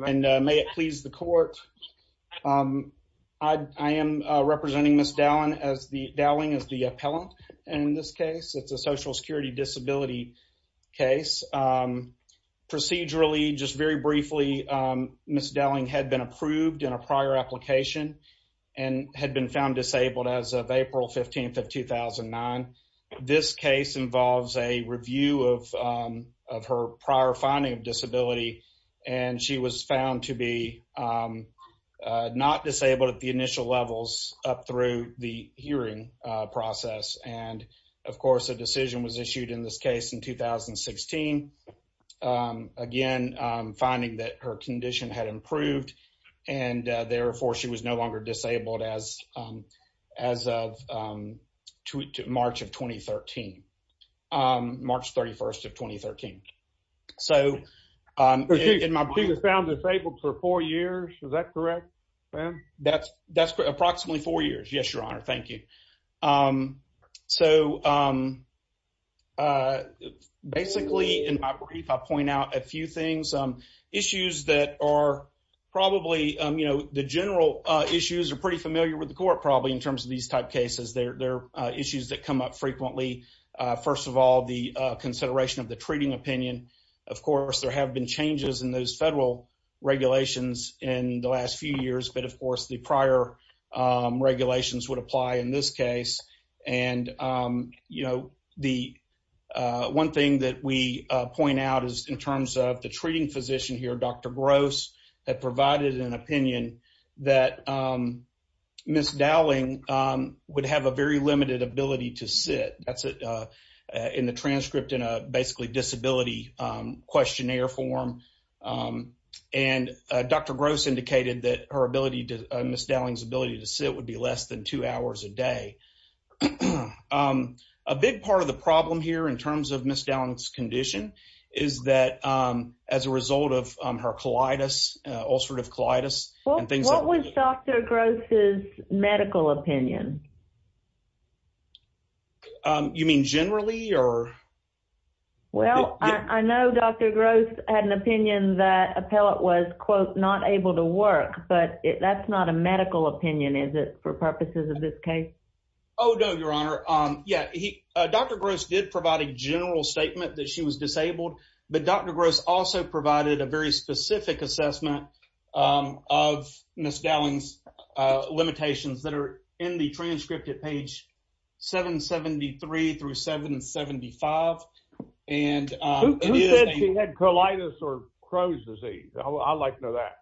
May it please the court. I am representing Ms. Dowling as the appellant in this case. It's a social security disability case. Procedurally, just very briefly, Ms. Dowling had been approved in a prior application and had been found disabled as of April 15th of 2009. This case involves a prior finding of disability and she was found to be not disabled at the initial levels up through the hearing process. And of course, a decision was issued in this case in 2016. Again, finding that her condition had improved and therefore she was no longer disabled as of March 31st of 2013. She was found disabled for four years, is that correct? That's correct. Approximately four years. Yes, your honor. Thank you. Basically, in my brief, I point out a few things. Issues that are probably, you know, the general issues are pretty familiar with the court probably in terms of these type cases. They're issues that come up frequently. First of all, the consideration of the treating opinion. Of course, there have been changes in those federal regulations in the last few years, but of course, the prior regulations would apply in this case. And, you know, the one thing that we that Ms. Dowling would have a very limited ability to sit. That's in the transcript in a basically disability questionnaire form. And Dr. Gross indicated that Ms. Dowling's ability to sit would be less than two hours a day. A big part of the problem here in terms of Ms. Dowling's condition is that as a result of her ulcerative colitis. What was Dr. Gross's medical opinion? You mean generally? Well, I know Dr. Gross had an opinion that appellate was, quote, not able to work, but that's not a medical opinion, is it, for purposes of this case? Oh, no, your honor. Yeah. Dr. Gross did provide a general statement that she was disabled, but Dr. Gross also provided a very specific assessment of Ms. Dowling's limitations that are in the transcript at page 773 through 775. Who said she had colitis or Croh's disease? I'd like to know that.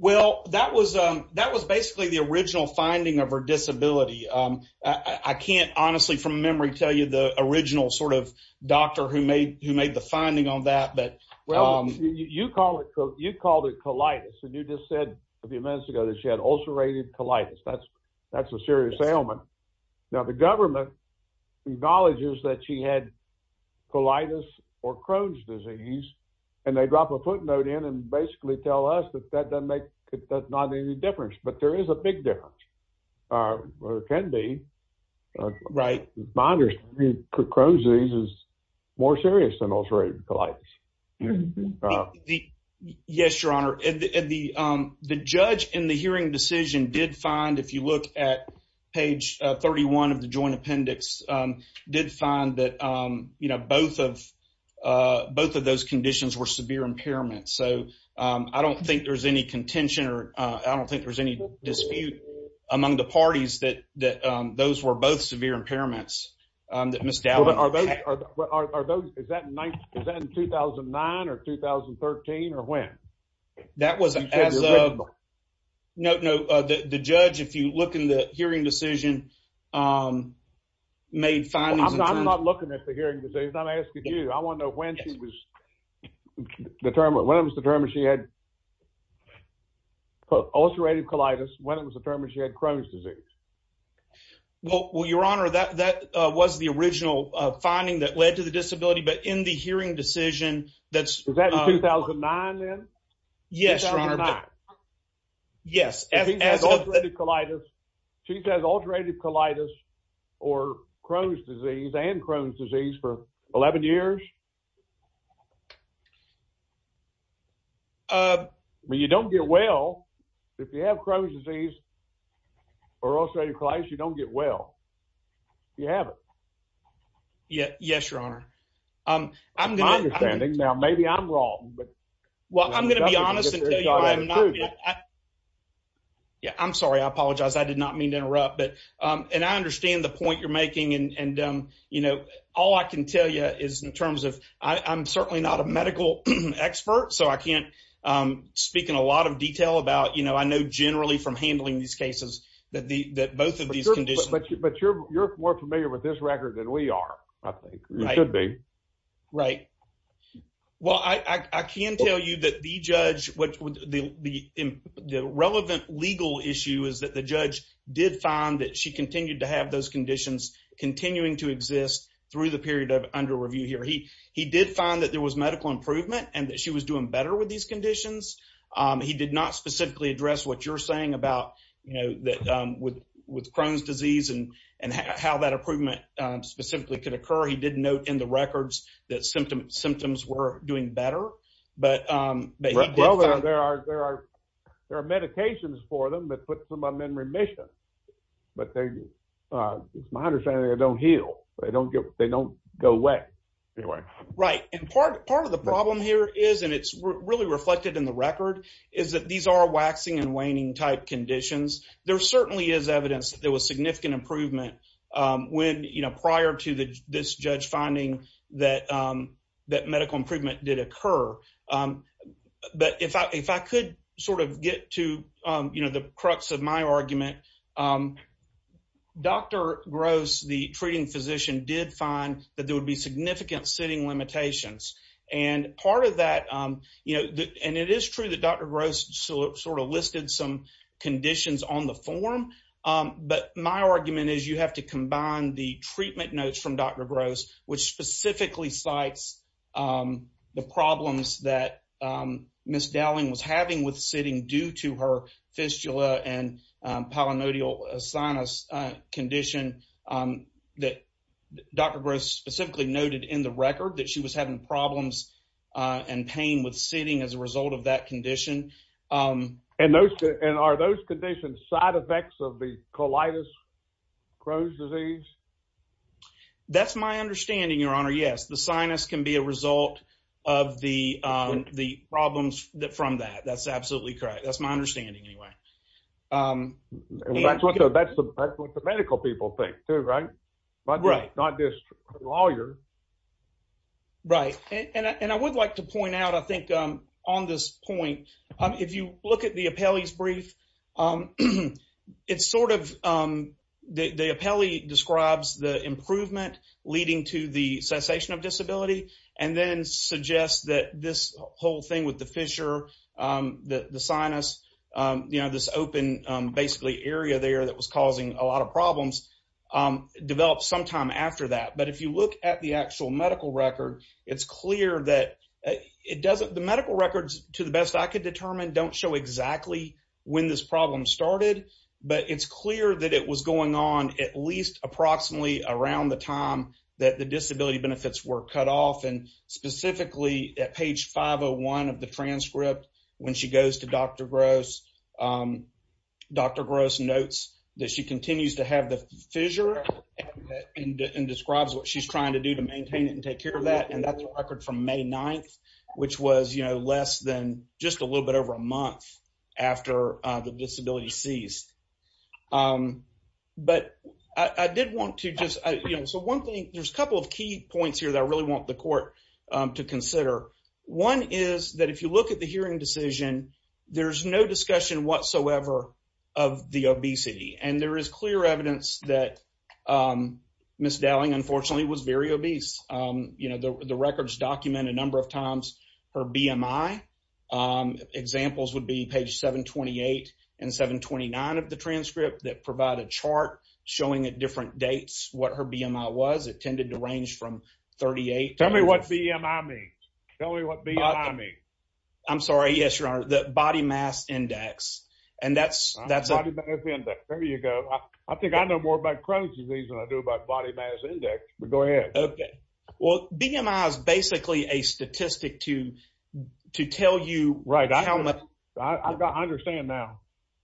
Well, that was basically the original finding of her disability. I can't honestly, from memory, tell you the original sort of doctor who made the finding on that. You called it colitis and you just said a few minutes ago that she had ulcerative colitis. That's a serious ailment. Now, the government acknowledges that she had colitis or Croh's and basically tell us that that doesn't make any difference, but there is a big difference, or can be. Right. My understanding is Croh's disease is more serious than ulcerative colitis. Yes, your honor. The judge in the hearing decision did find, if you look at page 31 of the joint So, I don't think there's any contention or I don't think there's any dispute among the parties that those were both severe impairments. Is that in 2009 or 2013 or when? That was as of, no, the judge, if you look in the hearing decision, made findings. I'm not looking at the hearing decision. I'm asking you. I want to know when she was determined, when it was determined she had ulcerative colitis, when it was determined she had Croh's disease. Well, your honor, that was the original finding that led to the disability, but in the hearing decision, that's. Is that in 2009 then? Yes, your honor. 2009. Yes. If he has ulcerative colitis, she says ulcerative colitis or Croh's disease and Crohn's disease for 11 years. You don't get well, if you have Croh's disease or ulcerative colitis, you don't get well. You haven't. Yes, your honor. My understanding, now maybe I'm wrong. Well, I'm going to be honest. I'm sorry. I apologize. I did not mean to interrupt. I understand the point you're making. All I can tell you is in terms of, I'm certainly not a medical expert, so I can't speak in a lot of detail about, I know generally from handling these cases that both of these conditions. But you're more familiar with this record than we are, I think. You should be. Right. Well, I can tell you that the judge, the relevant legal issue is that the judge did find that she continued to have those conditions continuing to exist through the period of under review here. He did find that there was medical improvement and that she was doing better with these conditions. He did not specifically address what you're saying about with Crohn's disease and how that improvement specifically could occur. He did note in the records that symptoms were doing better. Well, there are medications for them that put some of them in remission. But it's my understanding they don't heal. They don't go away. Right. And part of the problem here is, and it's really reflected in the record, is that these are waxing and waning type conditions. There certainly is evidence that there was significant improvement prior to this judge finding that medical improvement did occur. But if I could sort of get to the crux of my argument, Dr. Gross, the treating physician, did find that there would be significant sitting limitations. And part of that, you know, and it is true that Dr. Gross sort of listed some conditions on the form. But my argument is you have to combine the treatment notes from Dr. Gross, which specifically cites the problems that Ms. Dowling was having with sitting due to her was having problems and pain with sitting as a result of that condition. And are those conditions side effects of the colitis Crohn's disease? That's my understanding, Your Honor. Yes, the sinus can be a result of the problems from that. That's absolutely correct. That's my understanding anyway. That's what the medical people think too, right? Right. Not this lawyer. Right. And I would like to point out, I think, on this point, if you look at the appellee's brief, it's sort of the appellee describes the improvement leading to the cessation of disability and then suggests that this whole thing with the fissure, the sinus, you know, this open basically area there that was causing a lot of problems, developed sometime after that. But if you look at the actual medical record, it's clear that the medical records, to the best I could determine, don't show exactly when this problem started. But it's clear that it was going on at least approximately around the time that the disability benefits were cut off. And specifically at page 501 of the transcript, when she goes to Dr. Gross, Dr. Gross notes that she continues to have the fissure and describes what she's trying to do to maintain it and take care of that. And that's a record from May 9th, which was, you know, less than just a little bit over a month after the disability ceased. But I did want to just, you know, so one thing, there's a couple of key points here that I want the court to consider. One is that if you look at the hearing decision, there's no discussion whatsoever of the obesity. And there is clear evidence that Ms. Dowling, unfortunately, was very obese. You know, the records document a number of times her BMI. Examples would be page 728 and 729 of the transcript that provide a chart showing at different dates what her BMI was. It tells me what BMI means. Tell me what BMI means. I'm sorry. Yes, your honor, the body mass index. And that's, that's, there you go. I think I know more about Crohn's disease than I do about body mass index, but go ahead. Okay. Well, BMI is basically a statistic to, to tell you, right. Understand now.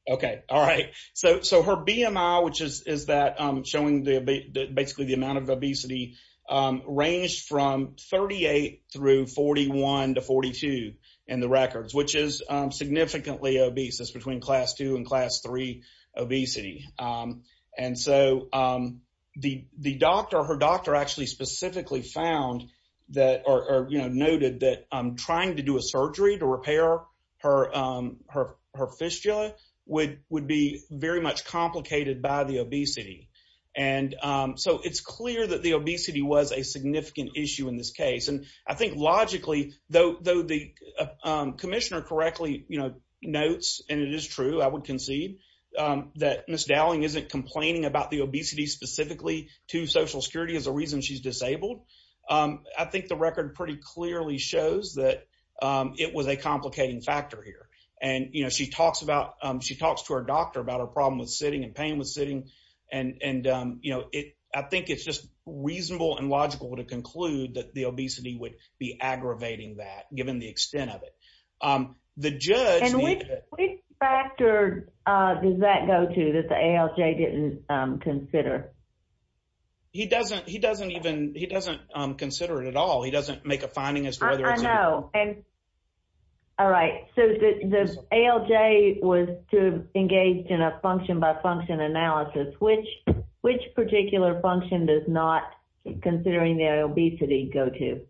Okay. All right. So, so her BMI, which is, is that I'm showing the, basically the obesity, ranged from 38 through 41 to 42 in the records, which is significantly obese. That's between class two and class three obesity. And so the, the doctor, her doctor actually specifically found that, or noted that trying to do a surgery to repair her, her, her fistula would, would be very much complicated by the obesity. And so it's clear that the obesity was a significant issue in this case. And I think logically though, though the commissioner correctly, you know, notes, and it is true, I would concede that Ms. Dowling isn't complaining about the obesity specifically to social security as a reason she's disabled. I think the record pretty clearly shows that it was a complicating factor here. And, you know, she talks about, she talks to her doctor about her problem with sitting and pain with sitting. And, and you know, it, I think it's just reasonable and logical to conclude that the obesity would be aggravating that given the extent of it. The judge. And which, which factor does that go to that the ALJ didn't consider? He doesn't, he doesn't even, he doesn't consider it at all. He doesn't make a finding as to whether and all right. So the ALJ was to engage in a function by function analysis, which, which particular function does not considering their obesity go to?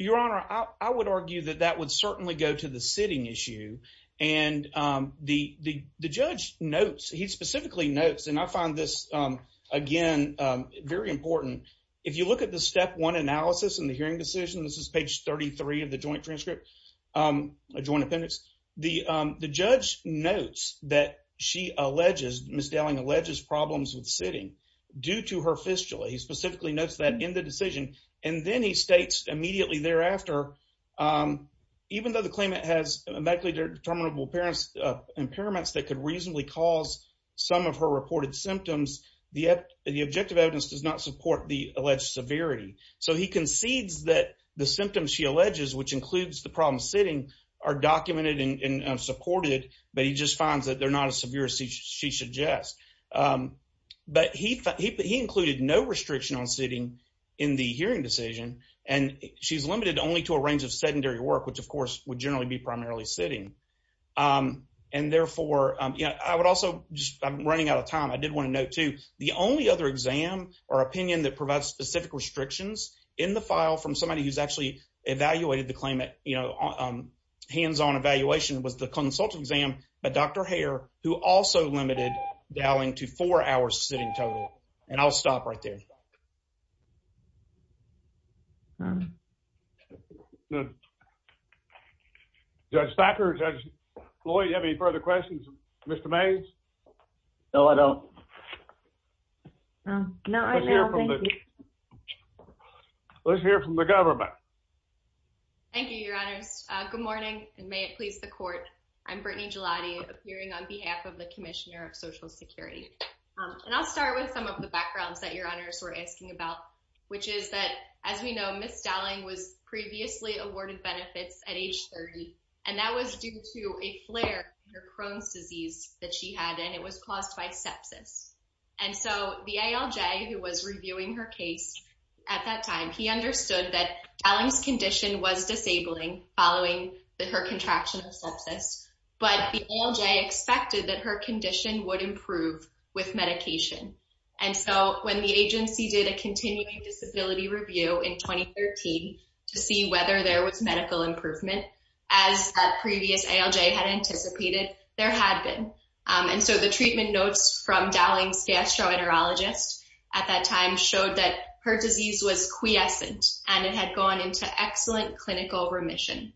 Your honor, I would argue that that would certainly go to the sitting issue. And the, the, the judge notes, he specifically notes, and I find this again, very important. If you look at the one analysis in the hearing decision, this is page 33 of the joint transcript, a joint appendix, the, the judge notes that she alleges Ms. Dowling alleges problems with sitting due to her fistula. He specifically notes that in the decision. And then he states immediately thereafter, even though the claimant has medically determinable parents impairments that could reasonably cause some of her reported symptoms, the, the objective evidence does not support the so he concedes that the symptoms she alleges, which includes the problem sitting are documented and supported, but he just finds that they're not as severe as she suggests. But he, he, he included no restriction on sitting in the hearing decision. And she's limited only to a range of sedentary work, which of course would generally be primarily sitting. And therefore, you know, I would also just, I'm running out of time. I did want to note too, the only other exam or opinion that provides specific restrictions in the file from somebody who's actually evaluated the claimant, you know, um, hands-on evaluation was the consultant exam, but Dr. Hare, who also limited Dowling to four hours sitting total. And I'll stop right there. Judge Thacker, Judge Floyd, you have any further questions? Mr. Mays? No, I don't. Let's hear from the government. Thank you, your honors. Good morning and may it please the court. I'm Brittany Gelati appearing on behalf of the commissioner of social security. And I'll start with some of the backgrounds that your honors were asking about, which is that as we know, Ms. Dowling was previously awarded benefits at age 30, and that was due to a flare in her Crohn's disease that she had, and it was caused by sepsis. And so the ALJ, who was reviewing her case at that time, he understood that Dowling's condition was disabling following the, her contraction of sepsis, but the ALJ expected that her condition would improve with medication. And so when the agency did a continuing disability review in 2013 to see whether there was medical improvement as a previous ALJ had anticipated, there had been. And so the treatment notes from Dowling's gastroenterologist at that time showed that her disease was quiescent and it had gone into excellent clinical remission.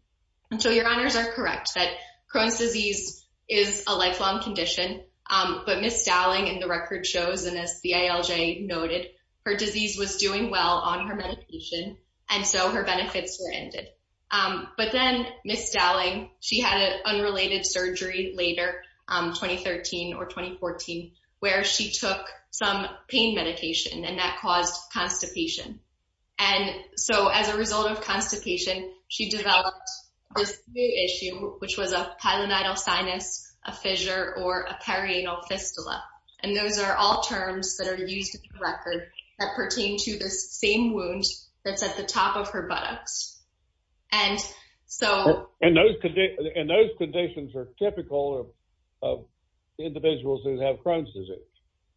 And so your honors are correct that Crohn's disease is a lifelong condition, but Ms. Dowling in the record shows, and as the ALJ noted, her disease was doing well on her medication. And so her benefits were ended. But then Ms. Dowling, she had an unrelated surgery later, 2013 or 2014, where she took some pain medication and that caused constipation. And so as a result of constipation, she developed this new issue, which was a perianal fistula. And those are all terms that are used in the record that pertain to this same wound that's at the top of her buttocks. And so- And those conditions are typical of individuals who have Crohn's disease.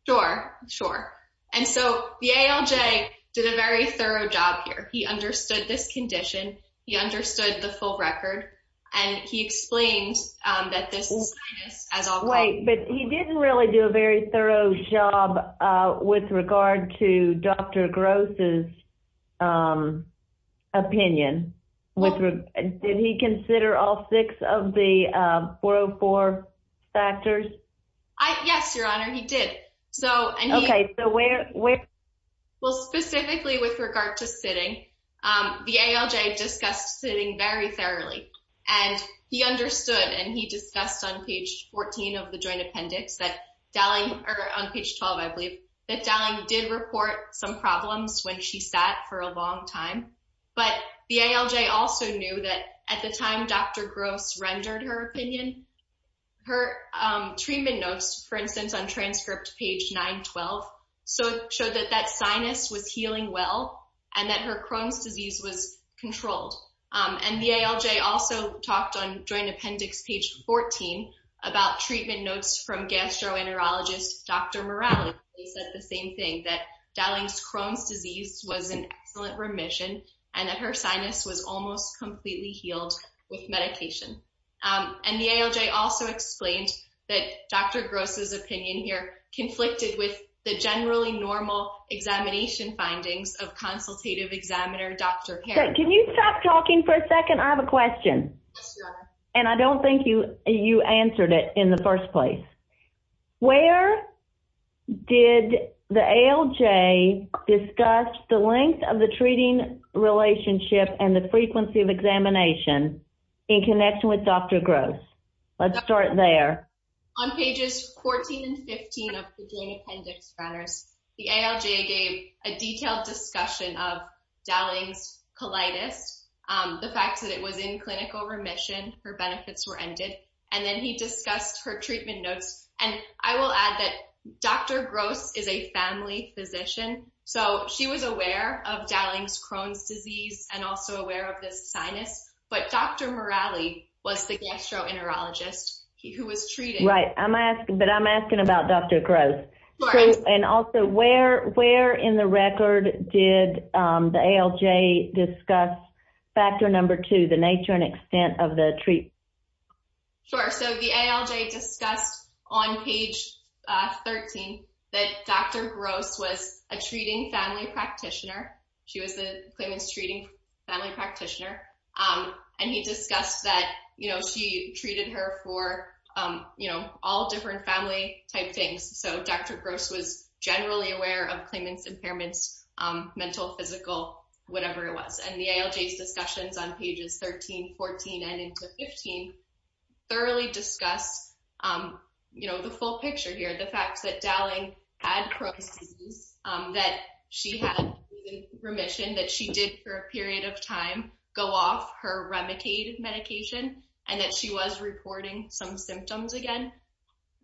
Sure, sure. And so the ALJ did a very thorough job here. He understood this condition, he understood the full record, and he explained that this is- Wait, but he didn't really do a very thorough job with regard to Dr. Gross' opinion. Did he consider all six of the 404 factors? Yes, your honor, he did. Okay, so where- Well, specifically with regard to sitting, the ALJ discussed sitting very thoroughly. And he understood and he discussed on page 14 of the joint appendix that Dowling- or on page 12, I believe, that Dowling did report some problems when she sat for a long time. But the ALJ also knew that at the time Dr. Gross rendered her opinion, her treatment notes, for instance, on transcript page 912 showed that that sinus was healing well and that her Crohn's disease was controlled. And the ALJ also talked on joint appendix page 14 about treatment notes from gastroenterologist Dr. Morales. They said the same thing, that Dowling's Crohn's disease was an excellent remission and that her sinus was almost completely healed with medication. And the ALJ also explained that Dr. Gross' opinion here conflicted with the generally normal examination findings of consultative examiner Dr. Perkins. Can you stop talking for a second? I have a question. Yes, your honor. And I don't think you answered it in the first place. Where did the ALJ discuss the length of examination in connection with Dr. Gross? Let's start there. On pages 14 and 15 of the joint appendix runners, the ALJ gave a detailed discussion of Dowling's colitis, the fact that it was in clinical remission, her benefits were ended, and then he discussed her treatment notes. And I will add that Dr. Gross is a family physician, so she was of Dowling's Crohn's disease and also aware of this sinus, but Dr. Morales was the gastroenterologist who was treated. Right. But I'm asking about Dr. Gross. And also, where in the record did the ALJ discuss factor number two, the nature and extent of the treatment? Sure. So, the ALJ discussed on page 13 that Dr. Gross was a treating family practitioner. She was the claimant's treating family practitioner. And he discussed that she treated her for all different family type things. So, Dr. Gross was generally aware of claimant's impairments, mental, physical, whatever it was. And the ALJ's discussions on pages 13, 14, and into 15 thoroughly discussed the full picture here, the fact that Dowling had Crohn's disease, that she had remission, that she did for a period of time go off her Remicade medication, and that she was reporting some symptoms again.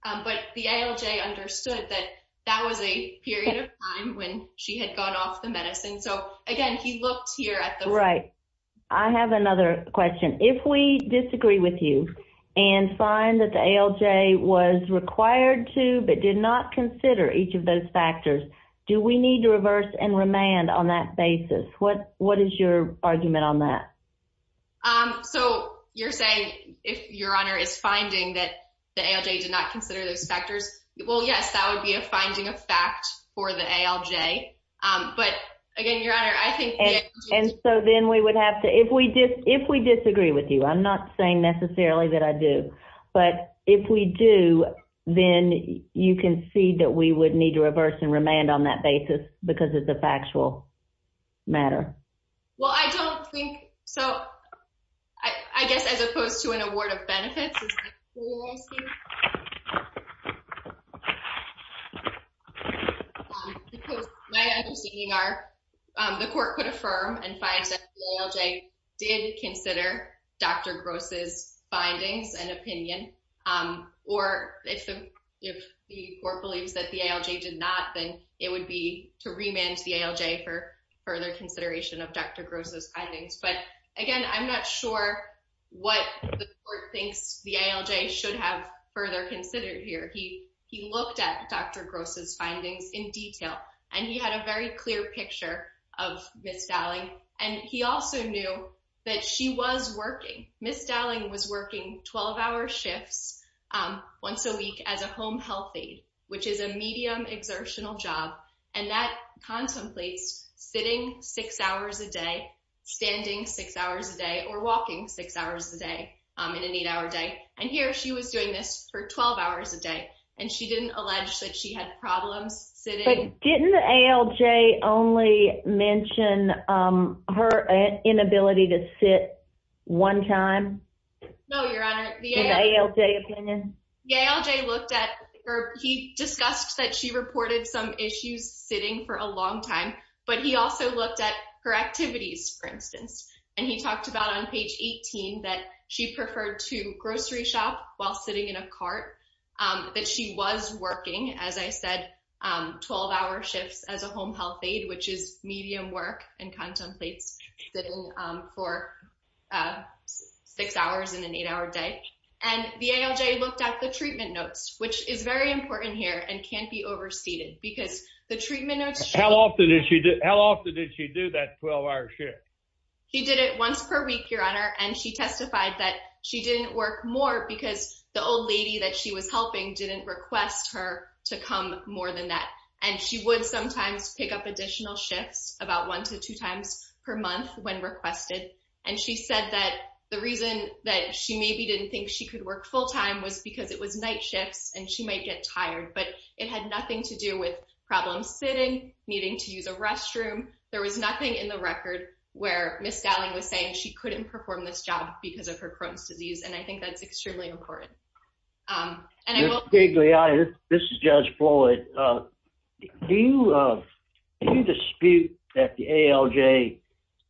But the ALJ understood that that was a period of time when she had gone off the medicine. So, again, he looked here at the- I have another question. If we disagree with you and find that the ALJ was required to, but did not consider each of those factors, do we need to reverse and remand on that basis? What is your argument on that? So, you're saying if Your Honor is finding that the ALJ did not consider those factors, well, yes, that would be a finding of fact for the ALJ. But again, Your Honor, I think- And so then we would have to- If we disagree with you, I'm not saying necessarily that I do, but if we do, then you can see that we would need to reverse and remand on that basis because it's a factual matter. Well, I don't think- So, I guess as opposed to an award of benefits, is that what you're asking? Because my understanding are the court could affirm and find that the ALJ did consider Dr. Gross's findings and opinion. Or if the court believes that the ALJ did not, then it would be to remand the ALJ for further consideration of Dr. Gross's findings. But again, I'm not sure what the court thinks the ALJ should have further considered here. He looked at Dr. Gross's findings in detail, and he had a very clear picture of Ms. Dowling. And he also knew that she was working. Ms. Dowling was working 12-hour shifts once a week as a home health aide, which is a medium exertional job. And that contemplates sitting six hours a day, standing six hours a day, or walking six hours a day, in an eight-hour day. And here, she was doing this for 12 hours a day, and she didn't allege that she had problems sitting- But didn't the ALJ only mention her inability to sit one time? No, Your Honor. In the ALJ opinion? The ALJ looked at, or he discussed that she reported some issues sitting for a long time, but he also looked at her activities, for instance. And he talked about on page 18 that she preferred to grocery shop while sitting in a cart, that she was working, as I said, 12-hour shifts as a home health aide, which is medium work and contemplates sitting for six hours in an eight-hour day. And the ALJ looked at the treatment notes, which is very important here and can't be overstated, because the treatment notes- How often did she do that 12-hour shift? She did it once per week, Your Honor, and she testified that she didn't work more because the old lady that she was helping didn't request her to come more than that. And she would sometimes pick up additional shifts, about one to two times per month when requested. And she said that the reason that she maybe didn't think she could work full-time was because it was night shifts, and she might get tired. But it had nothing to do with problems sitting, needing to use a restroom. There was nothing in the record where Ms. Dowling was saying she couldn't perform this job because of her Crohn's disease, and I think that's extremely important. And I will- Ms. Gigliotti, this is Judge Floyd. Do you dispute that the ALJ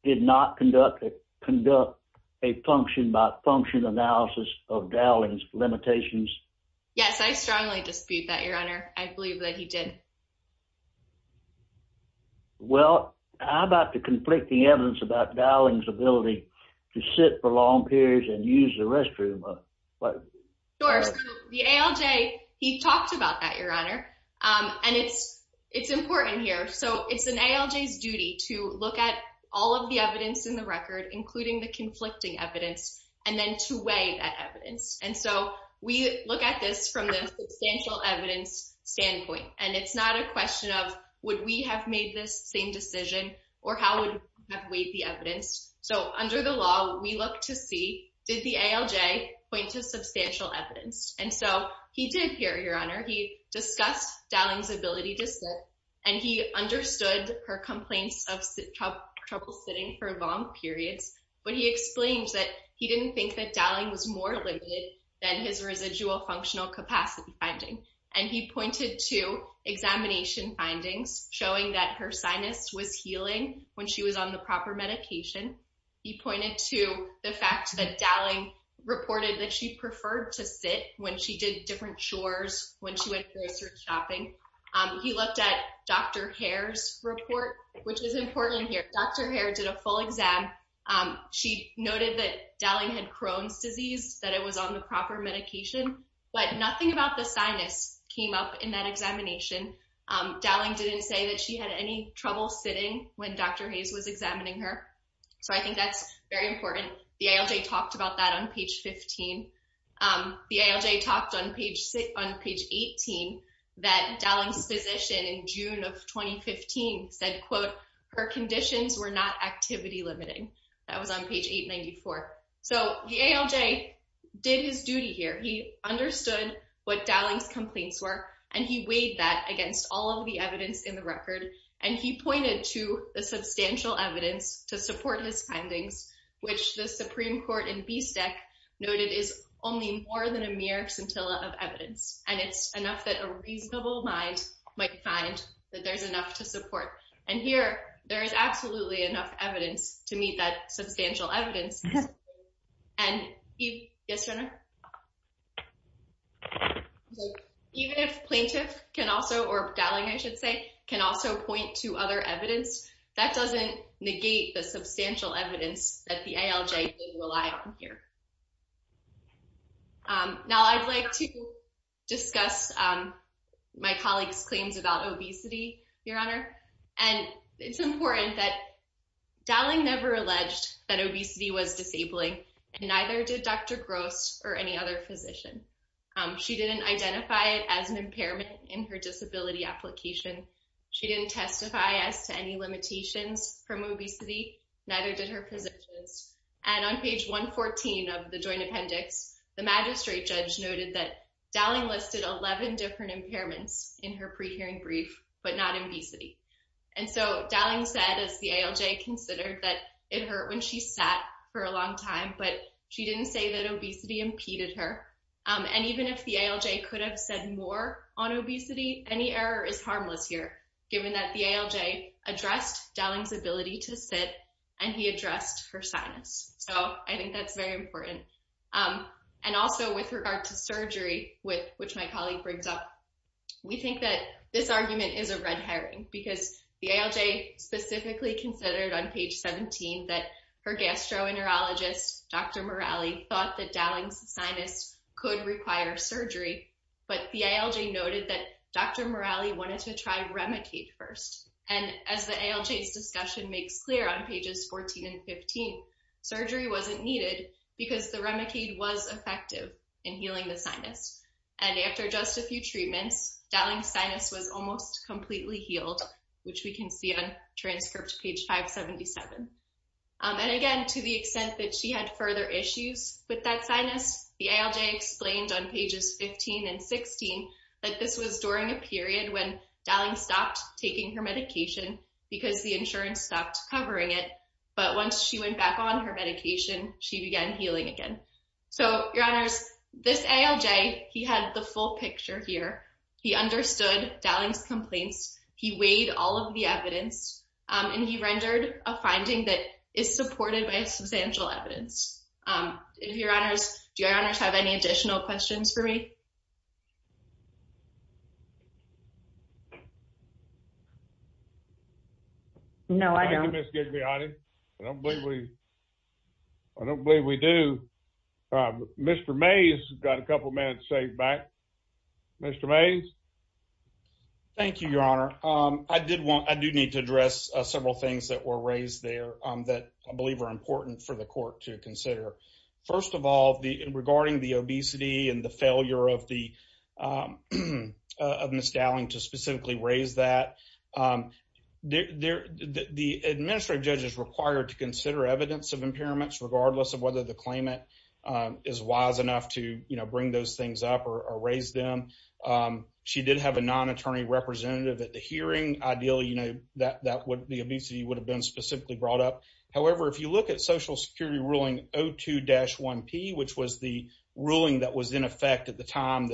did not conduct a function-by-function analysis of Dowling's limitations? Yes, I strongly dispute that, Your Honor. I believe that he did. Well, how about the conflicting evidence about Dowling's ability to sit for long periods and use the restroom? Sure. So the ALJ, he talked about that, Your Honor, and it's important here. So it's an ALJ's duty to look at all of the evidence in the record, including the conflicting evidence, and then to weigh that evidence. And so we look at this from the substantial evidence standpoint, and it's not a question of would we have made this same decision or how would we have weighed the evidence? So under the law, we look to see did the ALJ point to substantial evidence? And so he did here, Your Honor. He discussed Dowling's ability to sit, and he understood her complaints of trouble sitting for long periods, but he explains that he didn't think that Dowling was more limited than his residual functional capacity finding. And he pointed to examination findings showing that her sinus was healing when she was on the proper medication. He pointed to the fact that Dowling reported that she preferred to sit when she did different chores when she went grocery shopping. He looked at Dr. Hare's report, which is important here. Dr. Hare did a full exam. She noted that Dowling had Crohn's disease, that it was on the proper medication, but nothing about the sinus came up in that examination. Dowling didn't say that she had any trouble sitting when Dr. Hayes was examining her. So I think that's very important. The ALJ talked about that on page 15. The ALJ talked on page 18 that Dowling's physician in June of 2015 said, quote, her conditions were not activity limiting. That was on page 894. So the ALJ did his duty here. He understood what Dowling's complaints were, and he weighed that against all of the evidence in the record, and he pointed to the substantial evidence to support his claim. The Supreme Court in BSTEC noted is only more than a mere scintilla of evidence, and it's enough that a reasonable mind might find that there's enough to support. And here, there is absolutely enough evidence to meet that substantial evidence. And even if plaintiff can also, or Dowling, I should say, can also point to other evidence, that doesn't negate the substantial evidence that the ALJ did rely on here. Now, I'd like to discuss my colleague's claims about obesity, Your Honor. And it's important that Dowling never alleged that obesity was disabling, and neither did Dr. Gross or any other physician. She didn't identify it as an impairment in her positions. And on page 114 of the joint appendix, the magistrate judge noted that Dowling listed 11 different impairments in her pre-hearing brief, but not in obesity. And so Dowling said, as the ALJ considered, that it hurt when she sat for a long time, but she didn't say that obesity impeded her. And even if the ALJ could have said more on obesity, any error is harmless here, given that the ALJ addressed Dowling's ability to sit, and he addressed her sinus. So I think that's very important. And also with regard to surgery, which my colleague brings up, we think that this argument is a red herring, because the ALJ specifically considered on page 17 that her gastroenterologist, Dr. Morali, thought that Dowling's sinus could require surgery, but the ALJ noted that Dr. Morali had a remicade first. And as the ALJ's discussion makes clear on pages 14 and 15, surgery wasn't needed because the remicade was effective in healing the sinus. And after just a few treatments, Dowling's sinus was almost completely healed, which we can see on transcript page 577. And again, to the extent that she had further issues with that sinus, the ALJ explained on pages 15 and 16 that this was during a period when Dowling stopped taking her medication because the insurance stopped covering it. But once she went back on her medication, she began healing again. So, Your Honors, this ALJ, he had the full picture here. He understood Dowling's complaints. He weighed all of the evidence, and he rendered a finding that is true. No, I don't. Thank you, Ms. Gigliotti. I don't believe we do. Mr. Mays has got a couple minutes saved back. Mr. Mays? Thank you, Your Honor. I do need to address several things that were raised there that I to consider. First of all, regarding the obesity and the failure of Ms. Dowling to specifically raise that, the administrative judge is required to consider evidence of impairments regardless of whether the claimant is wise enough to bring those things up or raise them. She did have a non-attorney representative at the hearing. Ideally, the obesity would have been specifically brought up. However, if you look at Social Security Ruling 02-1P, which was the ruling that was in effect at the time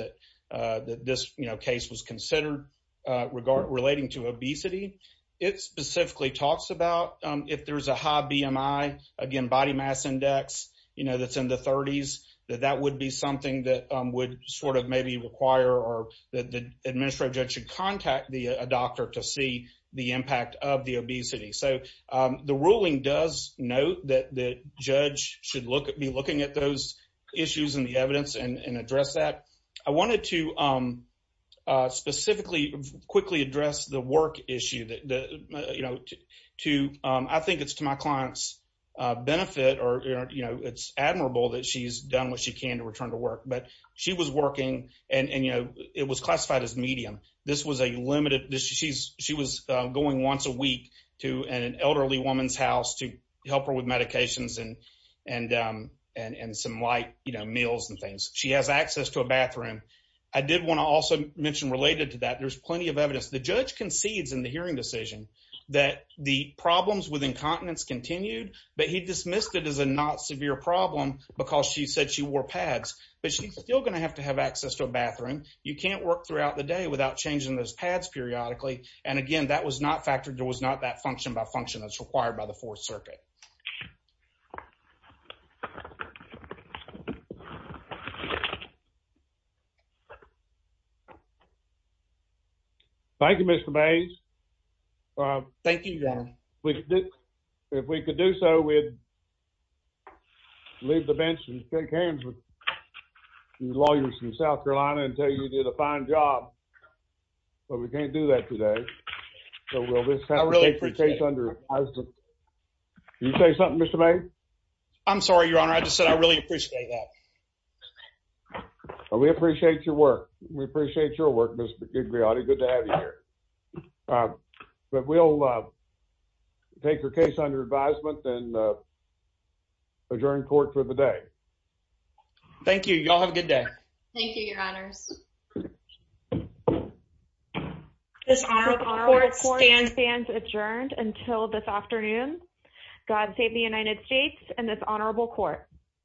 that this case was considered relating to obesity, it specifically talks about if there's a high BMI, again, body mass index that's in the 30s, that that would be something that would sort of maybe require or that the administrative judge should contact a doctor to see the impact of the obesity. So the ruling does note that the judge should be looking at those issues and the evidence and address that. I wanted to specifically quickly address the work issue. I think it's to my client's benefit or it's admirable that she's done what she can to going once a week to an elderly woman's house to help her with medications and some light meals and things. She has access to a bathroom. I did want to also mention related to that, there's plenty of evidence. The judge concedes in the hearing decision that the problems with incontinence continued, but he dismissed it as a not severe problem because she said she wore pads. But she's still going to have to have access to a bathroom. You can't work throughout the day without changing those pads periodically. And again, that was not factored, there was not that function by function that's required by the Fourth Circuit. Thank you, Mr. Mays. Thank you, John. If we could do so, we'd leave the bench and shake hands with the lawyers in South Carolina and tell you you did a fine job. But we can't do that today. You say something, Mr. Mays? I'm sorry, Your Honor. I just said I really appreciate that. We appreciate your work. We appreciate your work, Ms. Griotti. Good to have you here. But we'll take your case under advisement and adjourn court for the day. Thank you. Y'all have a good day. Thank you, Your Honors. This honorable court stands adjourned until this afternoon. God save the United States and this honorable court.